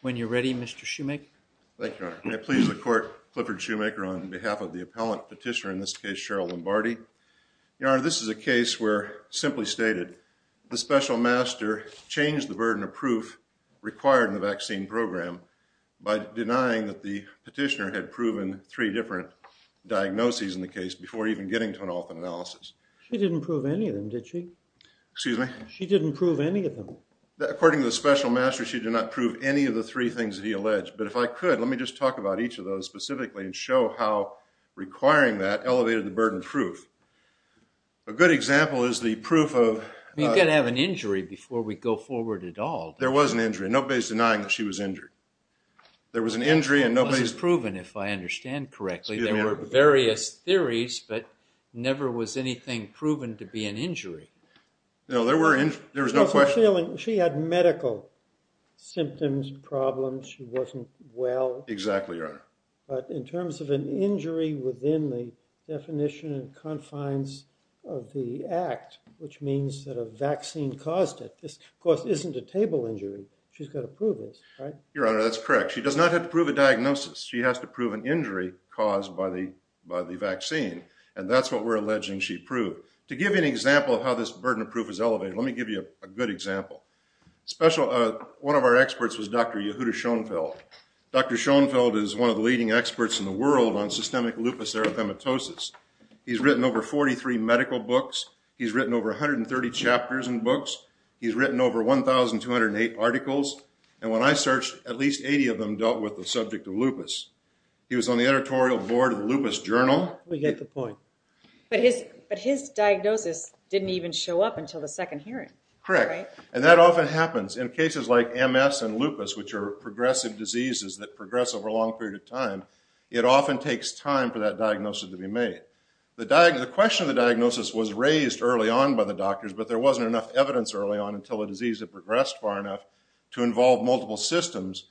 When you're ready, Mr. Shoemaker. Thank you, Your Honor. May it please the Court, Clifford Shoemaker on behalf of the appellant petitioner, in this case Cheryl Lombardi. Your Honor, this is a case where, simply stated, the special master changed the burden of proof required in the vaccine program by denying that the petitioner had proven three different diagnoses in the case before even getting to an orphan analysis. She didn't prove any of them, did she? Excuse me? She didn't prove any of them. According to the special master, she did not prove any of the three things that he alleged. But if I could, let me just talk about each of those specifically and show how requiring that elevated the burden of proof. A good example is the proof of… You've got to have an injury before we go forward at all. There was an injury. Nobody's denying that she was injured. There was an injury and nobody's… It wasn't proven, if I understand correctly. There were various theories, but never was anything proven to be an injury. No, there was no question. She had medical symptoms, problems. She wasn't well. Exactly, Your Honor. But in terms of an injury within the definition and confines of the act, which means that a vaccine caused it, this, of course, isn't a table injury. She's got to prove it, right? Your Honor, that's correct. She does not have to prove a diagnosis. She has to prove an injury caused by the vaccine. And that's what we're alleging she proved. To give you an example of how this burden of proof is elevated, let me give you a good example. One of our experts was Dr. Yehuda Schonfeld. Dr. Schonfeld is one of the leading experts in the world on systemic lupus erythematosus. He's written over 43 medical books. He's written over 130 chapters in books. He's written over 1,208 articles. And when I searched, at least 80 of them dealt with the subject of lupus. He was on the editorial board of the Lupus Journal. We get the point. But his diagnosis didn't even show up until the second hearing, right? Correct. And that often happens in cases like MS and lupus, which are progressive diseases that progress over a long period of time. It often takes time for that diagnosis to be made. The question of the diagnosis was raised early on by the doctors, but there wasn't enough evidence early on until the disease had progressed far enough to involve multiple systems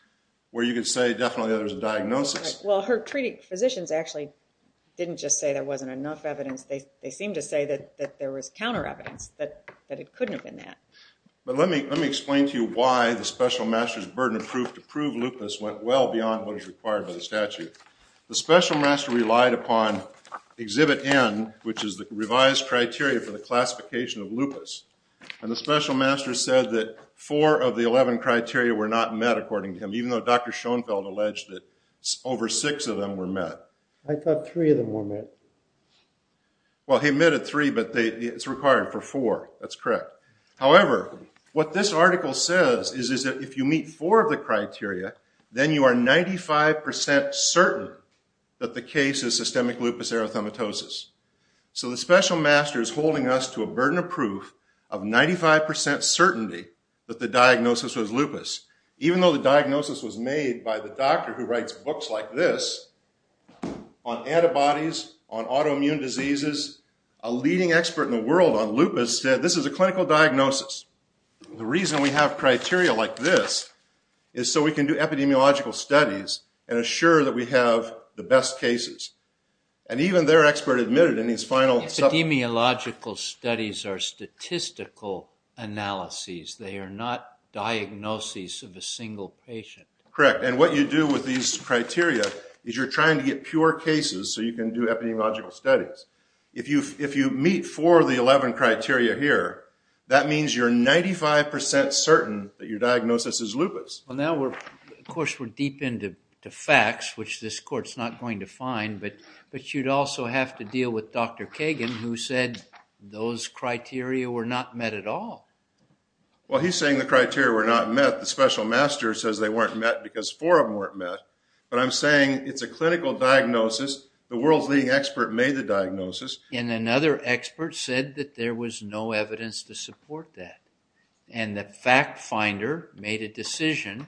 where you could say definitely that there was a diagnosis. Well, her treating physicians actually didn't just say there wasn't enough evidence. They seemed to say that there was counter evidence, that it couldn't have been that. But let me explain to you why the special master's burden of proof to prove lupus went well beyond what is required by the statute. The special master relied upon Exhibit N, which is the revised criteria for the classification of lupus. And the special master said that four of the 11 criteria were not met, according to him, even though Dr. Schonfeld alleged that over six of them were met. I thought three of them were met. Well, he admitted three, but it's required for four. That's correct. However, what this article says is that if you meet four of the criteria, then you are 95% certain that the case is systemic lupus erythematosus. So the special master is holding us to a burden of proof of 95% certainty that the diagnosis was lupus, even though the diagnosis was made by the doctor who writes books like this on antibodies, on autoimmune diseases. A leading expert in the world on lupus said this is a clinical diagnosis. The reason we have criteria like this is so we can do epidemiological studies and assure that we have the best cases. And even their expert admitted in his final... Epidemiological studies are statistical analyses. They are not diagnoses of a single patient. Correct. And what you do with these criteria is you're trying to get pure cases so you can do epidemiological studies. If you meet four of the 11 criteria here, that means you're 95% certain that your diagnosis is lupus. Now, of course, we're deep into facts, which this court's not going to find. But you'd also have to deal with Dr. Kagan, who said those criteria were not met at all. Well, he's saying the criteria were not met. The special master says they weren't met because four of them weren't met. But I'm saying it's a clinical diagnosis. The world's leading expert made the diagnosis. And another expert said that there was no evidence to support that. And the fact finder made a decision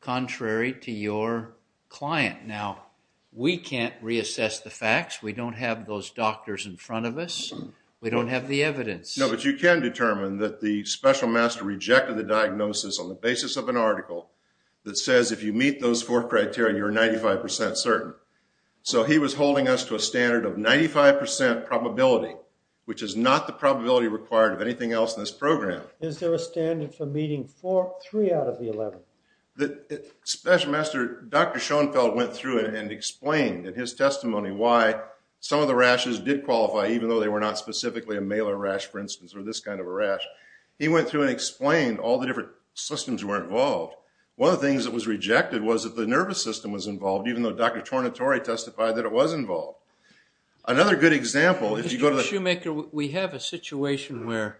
contrary to your client. Now, we can't reassess the facts. We don't have those doctors in front of us. We don't have the evidence. No, but you can determine that the special master rejected the diagnosis on the basis of an article that says if you meet those four criteria, you're 95% certain. So he was holding us to a standard of 95% probability, which is not the probability required of anything else in this program. Is there a standard for meeting three out of the 11? The special master, Dr. Schoenfeld, went through it and explained in his testimony why some of the rashes did qualify, even though they were not specifically a malar rash, for instance, or this kind of a rash. He went through and explained all the different systems that were involved. One of the things that was rejected was that the nervous system was involved, even though Dr. Tornatore testified that it was involved. Another good example, if you go to the- Mr. Shoemaker, we have a situation where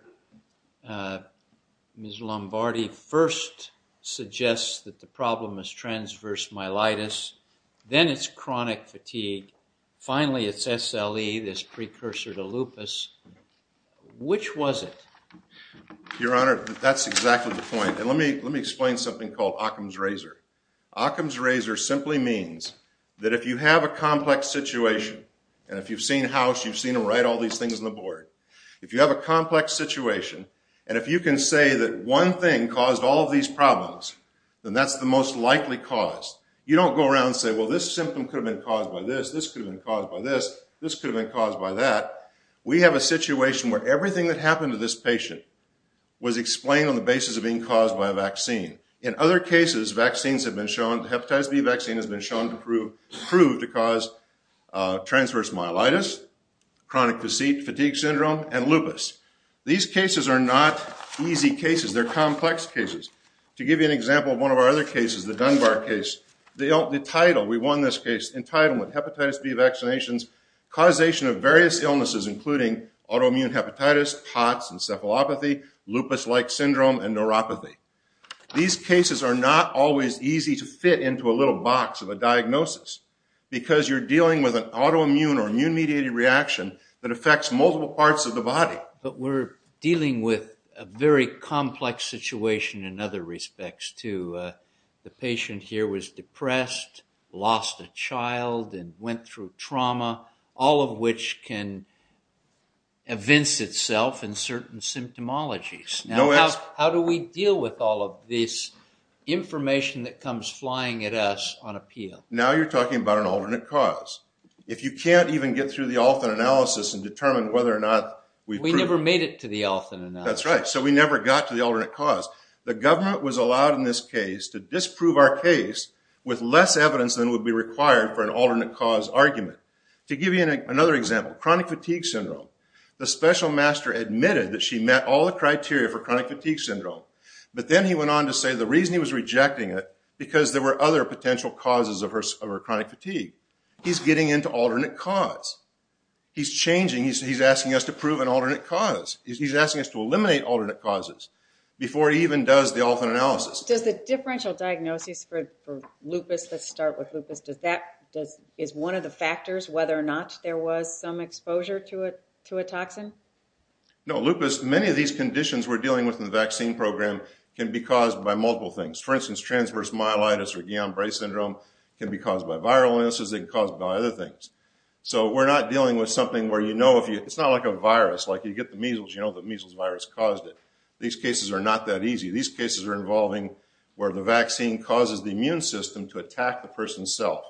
Ms. Lombardi first suggests that the problem is transverse myelitis. Then it's chronic fatigue. Finally, it's SLE, this precursor to lupus. Which was it? Your Honor, that's exactly the point. And let me explain something called Occam's razor. Occam's razor simply means that if you have a complex situation, and if you've seen House, you've seen him write all these things on the board. If you have a complex situation, and if you can say that one thing caused all of these problems, then that's the most likely cause. You don't go around and say, well, this symptom could have been caused by this, this could have been caused by this, this could have been caused by that. We have a situation where everything that happened to this patient was explained on the basis of being caused by a vaccine. In other cases, vaccines have been shown, the hepatitis B vaccine has been shown to prove to cause transverse myelitis, chronic fatigue syndrome, and lupus. These cases are not easy cases, they're complex cases. To give you an example of one of our other cases, the Dunbar case, the title, we won this case, entitlement, hepatitis B vaccinations, causation of various illnesses including autoimmune hepatitis, POTS, encephalopathy, lupus-like syndrome, and neuropathy. These cases are not always easy to fit into a little box of a diagnosis because you're dealing with an autoimmune or immune-mediated reaction that affects multiple parts of the body. But we're dealing with a very complex situation in other respects, too. The patient here was depressed, lost a child, and went through trauma, all of which can evince itself in certain symptomologies. How do we deal with all of this information that comes flying at us on appeal? Now you're talking about an alternate cause. If you can't even get through the Alton analysis and determine whether or not... We never made it to the Alton analysis. That's right, so we never got to the alternate cause. The government was allowed in this case to disprove our case with less evidence than would be required for an alternate cause argument. To give you another example, chronic fatigue syndrome. The special master admitted that she met all the criteria for chronic fatigue syndrome. But then he went on to say the reason he was rejecting it because there were other potential causes of her chronic fatigue. He's getting into alternate cause. He's changing, he's asking us to prove an alternate cause. He's asking us to eliminate alternate causes before he even does the Alton analysis. Does the differential diagnosis for lupus, let's start with lupus, is one of the factors whether or not there was some exposure to a toxin? No, lupus, many of these conditions we're dealing with in the vaccine program can be caused by multiple things. For instance, transverse myelitis or Guillain-Barre syndrome can be caused by viral illnesses, they can be caused by other things. So we're not dealing with something where you know if you... It's not like a virus, like you get the measles, you know the measles virus caused it. These cases are not that easy. These cases are involving where the vaccine causes the immune system to attack the person's self.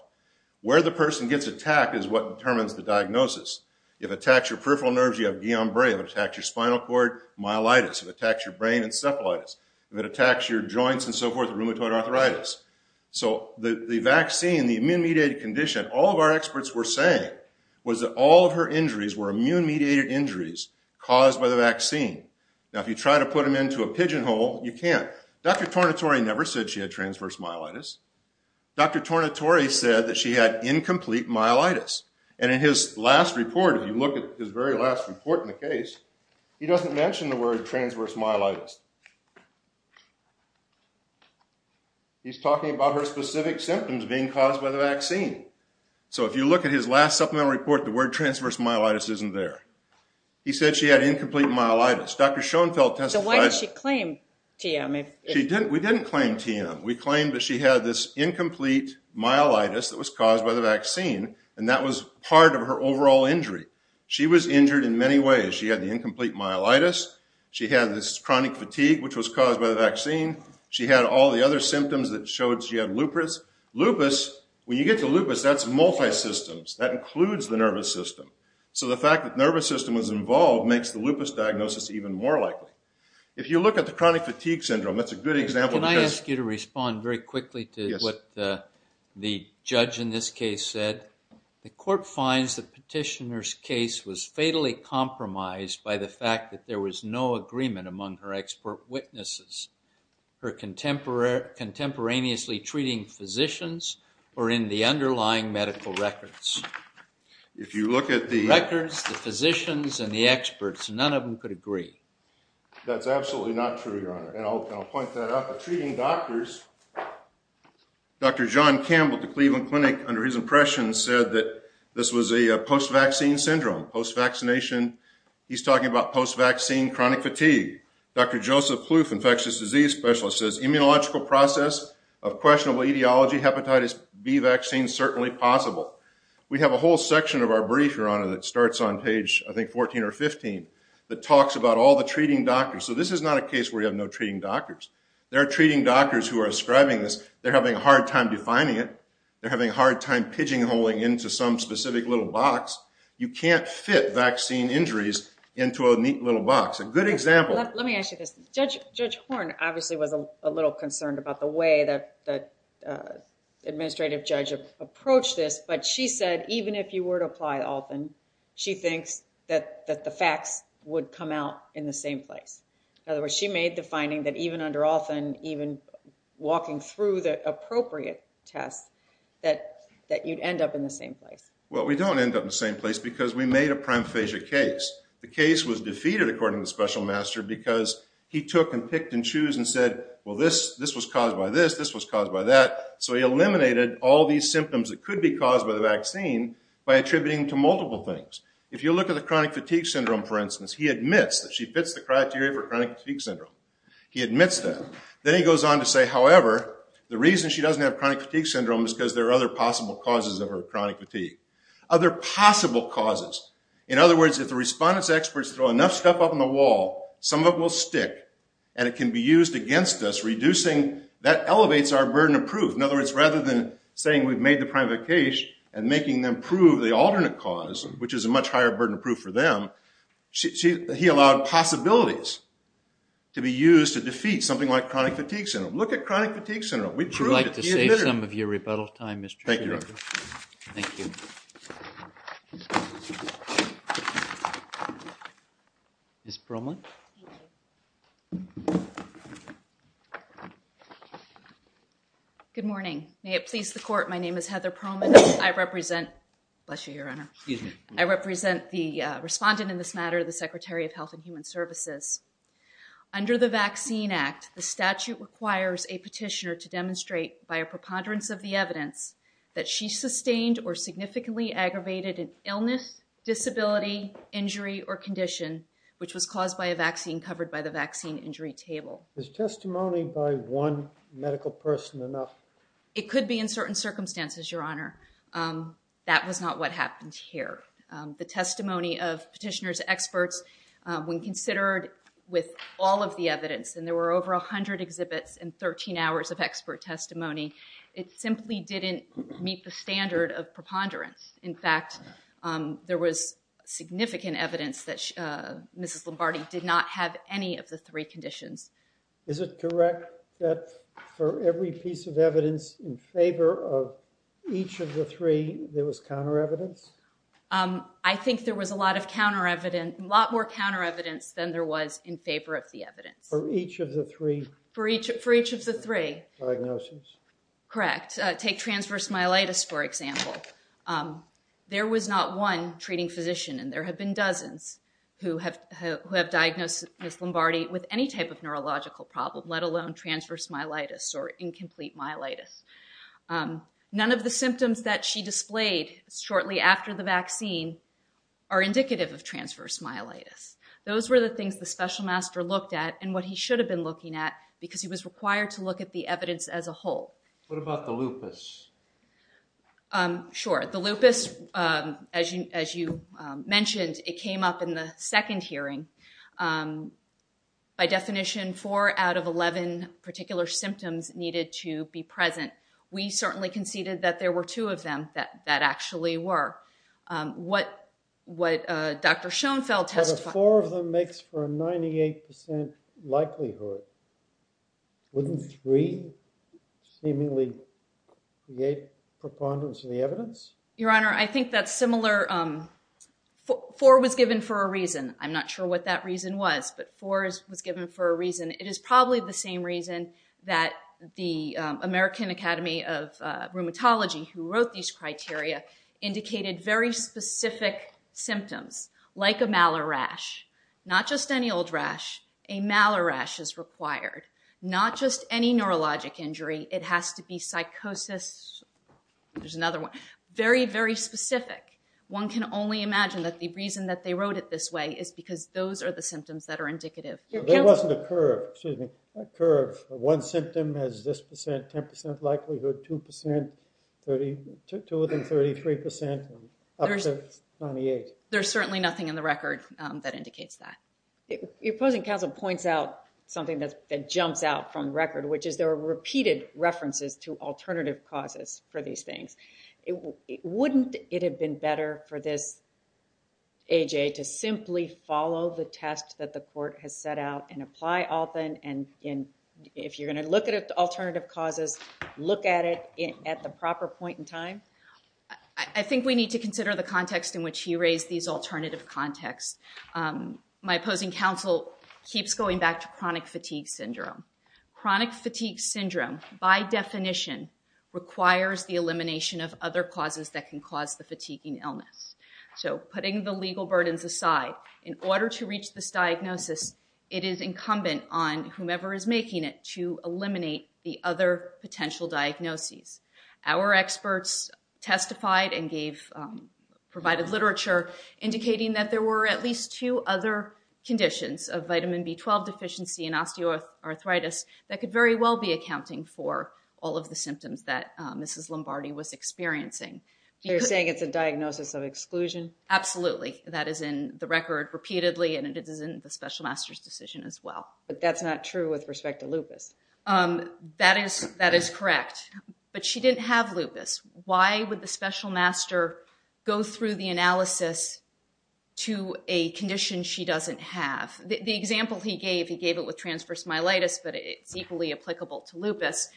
Where the person gets attacked is what determines the diagnosis. If it attacks your peripheral nerves, you have Guillain-Barre. If it attacks your spinal cord, myelitis. If it attacks your brain, encephalitis. If it attacks your joints and so forth, rheumatoid arthritis. So the vaccine, the immune-mediated condition, all of our experts were saying was that all of her injuries were immune-mediated injuries caused by the vaccine. Now if you try to put them into a pigeonhole, you can't. Dr. Tornatore never said she had transverse myelitis. Dr. Tornatore said that she had incomplete myelitis. And in his last report, if you look at his very last report in the case, he doesn't mention the word transverse myelitis. He's talking about her specific symptoms being caused by the vaccine. So if you look at his last supplemental report, the word transverse myelitis isn't there. He said she had incomplete myelitis. So why did she claim TM? We didn't claim TM. We claimed that she had this incomplete myelitis that was caused by the vaccine. And that was part of her overall injury. She was injured in many ways. She had the incomplete myelitis. She had this chronic fatigue, which was caused by the vaccine. She had all the other symptoms that showed she had lupus. Lupus, when you get to lupus, that's multi-systems. That includes the nervous system. So the fact that the nervous system was involved makes the lupus diagnosis even more likely. If you look at the chronic fatigue syndrome, that's a good example. Can I ask you to respond very quickly to what the judge in this case said? The court finds the petitioner's case was fatally compromised by the fact that there was no agreement among her expert witnesses. Her contemporaneously treating physicians were in the underlying medical records. If you look at the records, the physicians and the experts, none of them could agree. That's absolutely not true, Your Honor. And I'll point that out. But treating doctors, Dr. John Campbell at the Cleveland Clinic, under his impression, said that this was a post-vaccine syndrome. Post-vaccination, he's talking about post-vaccine chronic fatigue. Dr. Joseph Kluf, infectious disease specialist, says immunological process of questionable etiology, hepatitis B vaccine, certainly possible. We have a whole section of our brief, Your Honor, that starts on page, I think, 14 or 15, that talks about all the treating doctors. So this is not a case where you have no treating doctors. There are treating doctors who are ascribing this. They're having a hard time defining it. They're having a hard time pigeonholing into some specific little box. You can't fit vaccine injuries into a neat little box. A good example- Let me ask you this. Judge Horne obviously was a little concerned about the way that the administrative judge approached this. But she said, even if you were to apply Althan, she thinks that the facts would come out in the same place. In other words, she made the finding that even under Althan, even walking through the appropriate tests, that you'd end up in the same place. Well, we don't end up in the same place because we made a primephagia case. The case was defeated, according to the special master, because he took and picked and chose and said, well, this was caused by this, this was caused by that. So he eliminated all these symptoms that could be caused by the vaccine by attributing to multiple things. If you look at the chronic fatigue syndrome, for instance, he admits that she fits the criteria for chronic fatigue syndrome. He admits that. Then he goes on to say, however, the reason she doesn't have chronic fatigue syndrome is because there are other possible causes of her chronic fatigue. Other possible causes. In other words, if the respondent's experts throw enough stuff up on the wall, some of it will stick and it can be used against us, reducing, that elevates our burden of proof. In other words, rather than saying we've made the primephagia case and making them prove the alternate cause, which is a much higher burden of proof for them, he allowed possibilities to be used to defeat something like chronic fatigue syndrome. Look at chronic fatigue syndrome. We proved it. Would you like to save some of your rebuttal time, Mr. Schroeder? Thank you. Thank you. Ms. Perlman. Good morning. May it please the court, my name is Heather Perlman. I represent, bless you, Your Honor. Excuse me. I represent the respondent in this matter, the Secretary of Health and Human Services. Under the Vaccine Act, the statute requires a petitioner to demonstrate by a preponderance of the evidence that she sustained or significantly aggravated an illness, disability, injury, or condition which was caused by a vaccine covered by the vaccine injury table. Is testimony by one medical person enough? It could be in certain circumstances, Your Honor. That was not what happened here. The testimony of petitioner's experts, when considered with all of the evidence, and there were over 100 exhibits and 13 hours of expert testimony, it simply didn't meet the standard of preponderance. In fact, there was significant evidence that Mrs. Lombardi did not have any of the three conditions. Is it correct that for every piece of evidence in favor of each of the three, there was counter evidence? I think there was a lot more counter evidence than there was in favor of the evidence. For each of the three? For each of the three. Diagnosis? Correct. Take transverse myelitis, for example. There was not one treating physician, and there have been dozens who have diagnosed Mrs. Lombardi with any type of neurological problem, let alone transverse myelitis or incomplete myelitis. None of the symptoms that she displayed shortly after the vaccine are indicative of transverse myelitis. Those were the things the special master looked at, and what he should have been looking at, because he was required to look at the evidence as a whole. What about the lupus? Sure. The lupus, as you mentioned, it came up in the second hearing. By definition, four out of 11 particular symptoms needed to be present. We certainly conceded that there were two of them that actually were. What Dr. Schoenfeld testified... For a 98% likelihood, wouldn't three seemingly create preponderance of the evidence? Your Honor, I think that's similar. Four was given for a reason. I'm not sure what that reason was, but four was given for a reason. It is probably the same reason that the American Academy of Rheumatology, who wrote these criteria, indicated very specific symptoms, like a Malheur rash. Not just any old rash. A Malheur rash is required. Not just any neurologic injury. It has to be psychosis. There's another one. Very, very specific. One can only imagine that the reason that they wrote it this way is because those are the symptoms that are indicative. There wasn't a curve. One symptom has this percent, 10% likelihood, two of them 33%, up to 98%. There's certainly nothing in the record that indicates that. Your opposing counsel points out something that jumps out from the record, which is there are repeated references to alternative causes for these things. Wouldn't it have been better for this A.J. to simply follow the test that the court has set out and apply often? If you're going to look at alternative causes, look at it at the proper point in time? I think we need to consider the context in which he raised these alternative contexts. My opposing counsel keeps going back to chronic fatigue syndrome. Chronic fatigue syndrome, by definition, requires the elimination of other causes that can cause the fatiguing illness. Putting the legal burdens aside, in order to reach this diagnosis, it is incumbent on whomever is making it to eliminate the other potential diagnoses. Our experts testified and provided literature indicating that there were at least two other conditions of vitamin B12 deficiency and osteoarthritis that could very well be accounting for all of the symptoms that Mrs. Lombardi was experiencing. You're saying it's a diagnosis of exclusion? Absolutely. That is in the record repeatedly, and it is in the special master's decision as well. But that's not true with respect to lupus. That is correct. But she didn't have lupus. Why would the special master go through the analysis to a condition she doesn't have? The example he gave, he gave it with transverse myelitis, but it's equally applicable to lupus.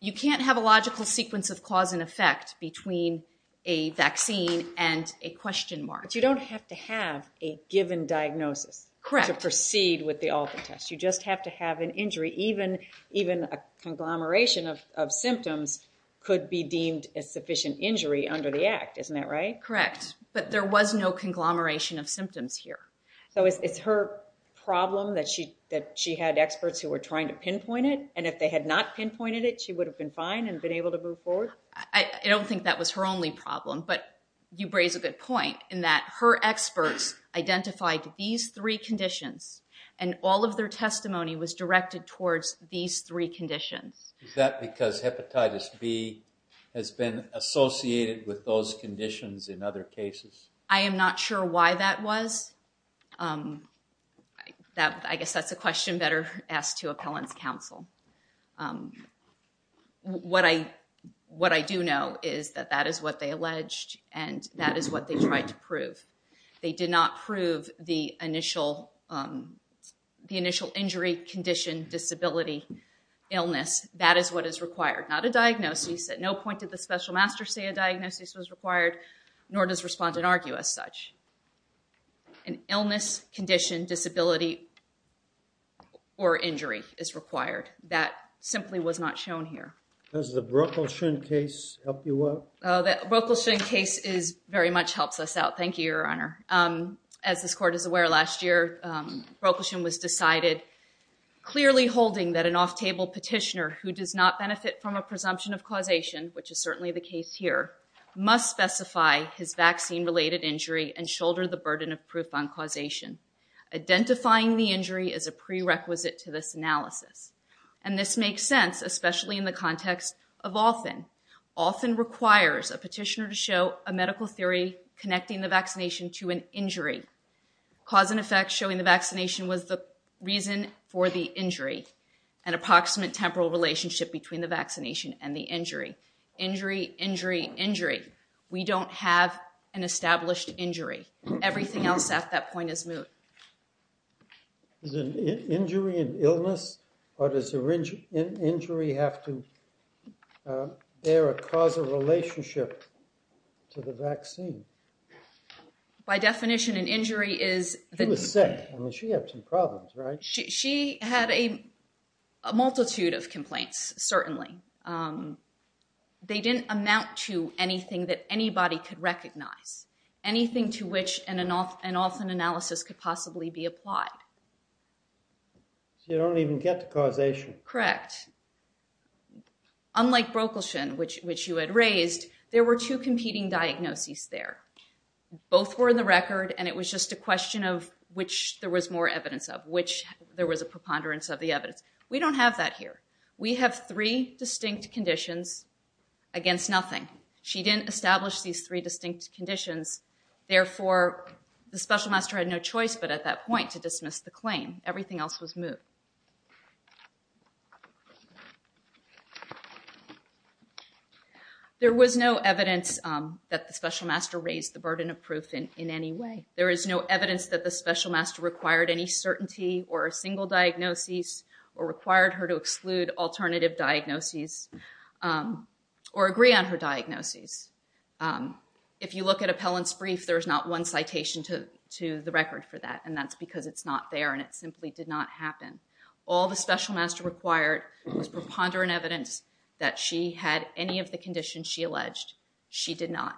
You can't have a logical sequence of cause and effect between a vaccine and a question mark. But you don't have to have a given diagnosis to proceed with the all of the tests. You just have to have an injury. Even a conglomeration of symptoms could be deemed a sufficient injury under the act. Isn't that right? Correct. But there was no conglomeration of symptoms here. So it's her problem that she had experts who were trying to pinpoint it, and if they had not pinpointed it, she would have been fine and been able to move forward? I don't think that was her only problem, but you raise a good point in that her experts identified these three conditions and all of their testimony was directed towards these three conditions. Is that because hepatitis B has been associated with those conditions in other cases? I am not sure why that was. I guess that's a question better asked to appellant's counsel. What I do know is that that is what they alleged and that is what they tried to prove. They did not prove the initial injury, condition, disability, illness. That is what is required. Not a diagnosis. At no point did the special master say a diagnosis was required, nor does respondent argue as such. An illness, condition, disability, or injury is required. That simply was not shown here. Does the Brockelshun case help you out? The Brockelshun case very much helps us out. Thank you, Your Honor. As this Court is aware, last year Brockelshun was decided clearly holding that an off-table petitioner who does not benefit from a presumption of causation, which is certainly the case here, must specify his vaccine-related injury and shoulder the burden of proof on causation. Identifying the injury is a prerequisite to this analysis. And this makes sense, especially in the context of often. Often requires a petitioner to show a medical theory connecting the vaccination to an injury. Cause and effect showing the vaccination was the reason for the injury. An approximate temporal relationship between the vaccination and the injury. Injury, injury, injury. We don't have an established injury. Everything else at that point is moot. Is an injury an illness, or does the injury have to bear a causal relationship to the vaccine? By definition, an injury is... She was sick. I mean, she had some problems, right? She had a multitude of complaints, certainly. They didn't amount to anything that anybody could recognize. Anything to which an often analysis could possibly be applied. So you don't even get to causation. Correct. Unlike Brokelson, which you had raised, there were two competing diagnoses there. Both were in the record, and it was just a question of which there was more evidence of. Which there was a preponderance of the evidence. We don't have that here. We have three distinct conditions against nothing. She didn't establish these three distinct conditions. Therefore, the special master had no choice but at that point to dismiss the claim. Everything else was moot. There was no evidence that the special master raised the burden of proof in any way. There is no evidence that the special master required any certainty or a single diagnosis, or required her to exclude alternative diagnoses, or agree on her diagnoses. If you look at Appellant's brief, there's not one citation to the record for that. That's because it's not there, and it simply did not happen. All the special master required was preponderant evidence that she had any of the conditions she alleged. She did not.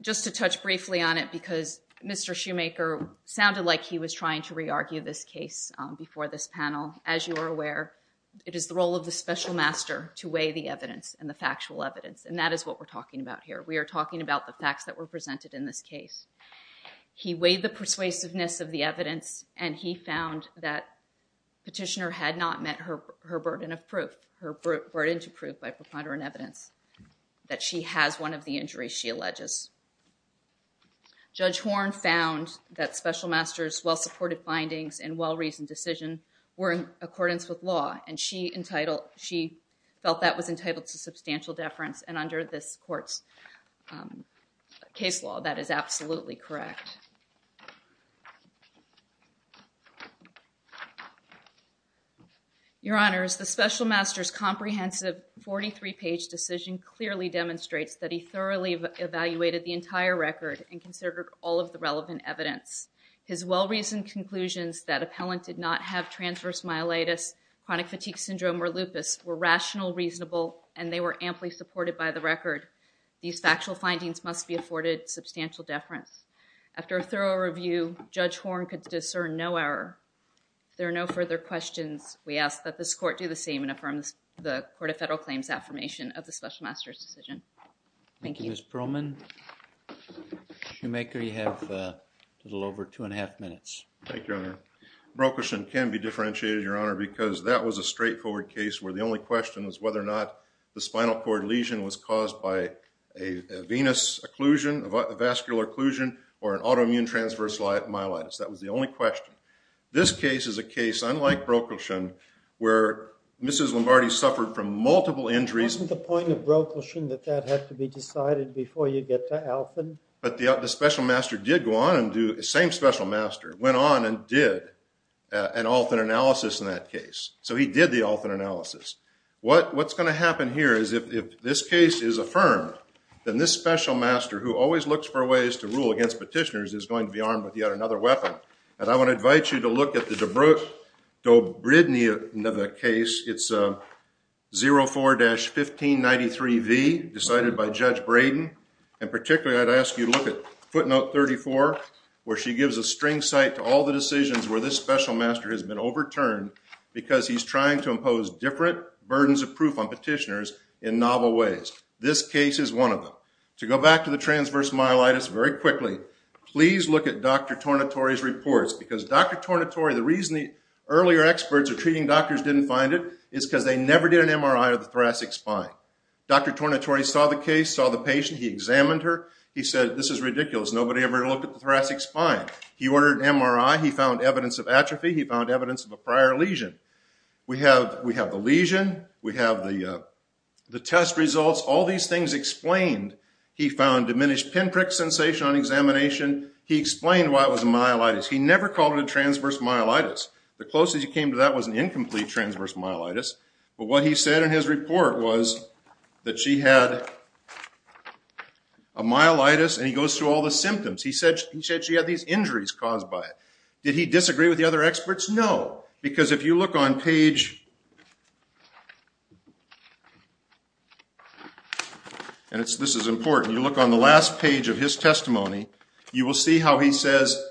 Just to touch briefly on it, because Mr. Shoemaker sounded like he was trying to re-argue this case before this panel, as you are aware, it is the role of the special master to weigh the evidence and the factual evidence, and that is what we're talking about here. We are talking about the facts that were presented in this case. He weighed the persuasiveness of the evidence, and he found that Petitioner had not met her burden of proof, her burden to prove by preponderant evidence, that she has one of the injuries she alleges. Judge Horne found that special master's well-supported findings and well-reasoned decision were in accordance with law, and she felt that was entitled to substantial deference, and under this court's case law, that is absolutely correct. Your Honors, the special master's comprehensive 43-page decision clearly demonstrates that he thoroughly evaluated the entire record and considered all of the relevant evidence. His well-reasoned conclusions that appellant did not have transverse myelitis, chronic fatigue syndrome, or lupus were rational, reasonable, and they were amply supported by the record. These factual findings must be afforded substantial deference. After a thorough review, Judge Horne could discern no error. If there are no further questions, we ask that this court do the same and affirm the Court of Federal Claims' affirmation of the special master's decision. Thank you. Thank you, Ms. Perlman. Shoemaker, you have a little over two and a half minutes. Thank you, Your Honor. Brokelson can be differentiated, Your Honor, because that was a straightforward case where the only question was whether or not the spinal cord lesion was caused by a venous occlusion, a vascular occlusion, or an autoimmune transverse myelitis. That was the only question. This case is a case, unlike Brokelson, where Mrs. Lombardi suffered from multiple injuries. Wasn't the point of Brokelson that that had to be decided before you get to Alton? But the special master did go on and do, the same special master, went on and did an Alton analysis in that case. So he did the Alton analysis. What's going to happen here is if this case is affirmed, then this special master, who always looks for ways to rule against petitioners, is going to be armed with yet another weapon. And I want to invite you to look at the Dobrydny case. It's 04-1593V, decided by Judge Braden. And particularly, I'd ask you to look at footnote 34, where she gives a string cite to all the decisions where this special master has been overturned, because he's trying to impose different burdens of proof on petitioners in novel ways. This case is one of them. To go back to the transverse myelitis very quickly, please look at Dr. Tornatore's reports. Because Dr. Tornatore, the reason the earlier experts or treating doctors didn't find it is because they never did an MRI of the thoracic spine. Dr. Tornatore saw the case, saw the patient. He examined her. He said, this is ridiculous. Nobody ever looked at the thoracic spine. He ordered an MRI. He found evidence of atrophy. He found evidence of a prior lesion. We have the lesion. We have the test results. All these things explained. He found diminished pinprick sensation on examination. He explained why it was a myelitis. He never called it a transverse myelitis. The closest he came to that was an incomplete transverse myelitis. But what he said in his report was that she had a myelitis and he goes through all the symptoms. He said she had these injuries caused by it. Did he disagree with the other experts? No. Because if you look on page, and this is important, you look on the last page of his testimony, you will see how he says,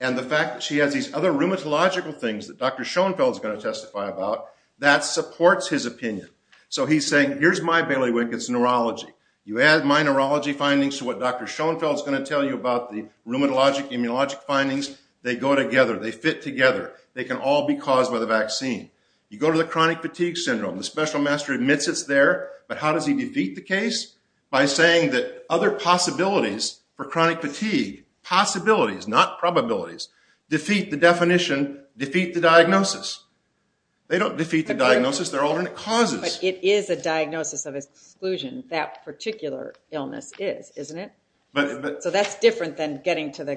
and the fact that she has these other rheumatological things that Dr. Schoenfeld is going to testify about, that supports his opinion. So he's saying, here's my bailiwick. It's neurology. You add my neurology findings to what Dr. Schoenfeld is going to tell you about the rheumatologic, immunologic findings, they go together. They fit together. They can all be caused by the vaccine. You go to the chronic fatigue syndrome. The special master admits it's there, but how does he defeat the case? By saying that other possibilities for chronic fatigue, possibilities, not probabilities, defeat the definition, defeat the diagnosis. They don't defeat the diagnosis. They're alternate causes. But it is a diagnosis of exclusion. That particular illness is, isn't it? But... So that's different than getting to the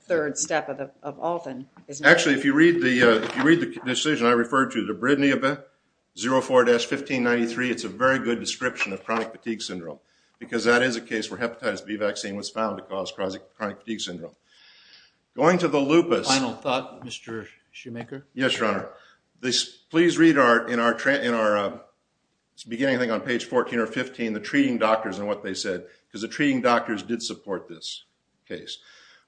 third step of Alton, isn't it? Actually, if you read the, if you read the decision I referred to, the BRIDNI-04-1593, it's a very good description of chronic fatigue syndrome because that is a case where hepatitis B vaccine was found to cause chronic fatigue syndrome. Going to the lupus... Final thought, Mr. Shoemaker? Yes, Your Honor. Please read our, in our beginning thing on page 14 or 15, the treating doctors and what they said, because the treating doctors did support this case.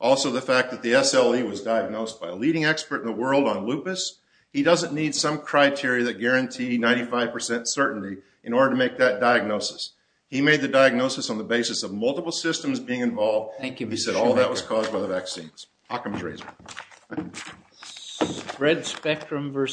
Also, the fact that the SLE was diagnosed by a leading expert in the world on lupus. He doesn't need some criteria that guarantee 95 percent certainty in order to make that diagnosis. He made the diagnosis on the basis of multiple systems being involved. Thank you, Mr. Shoemaker. He said all of that was caused by the vaccines. Occam's Razor. Red Spectrum versus...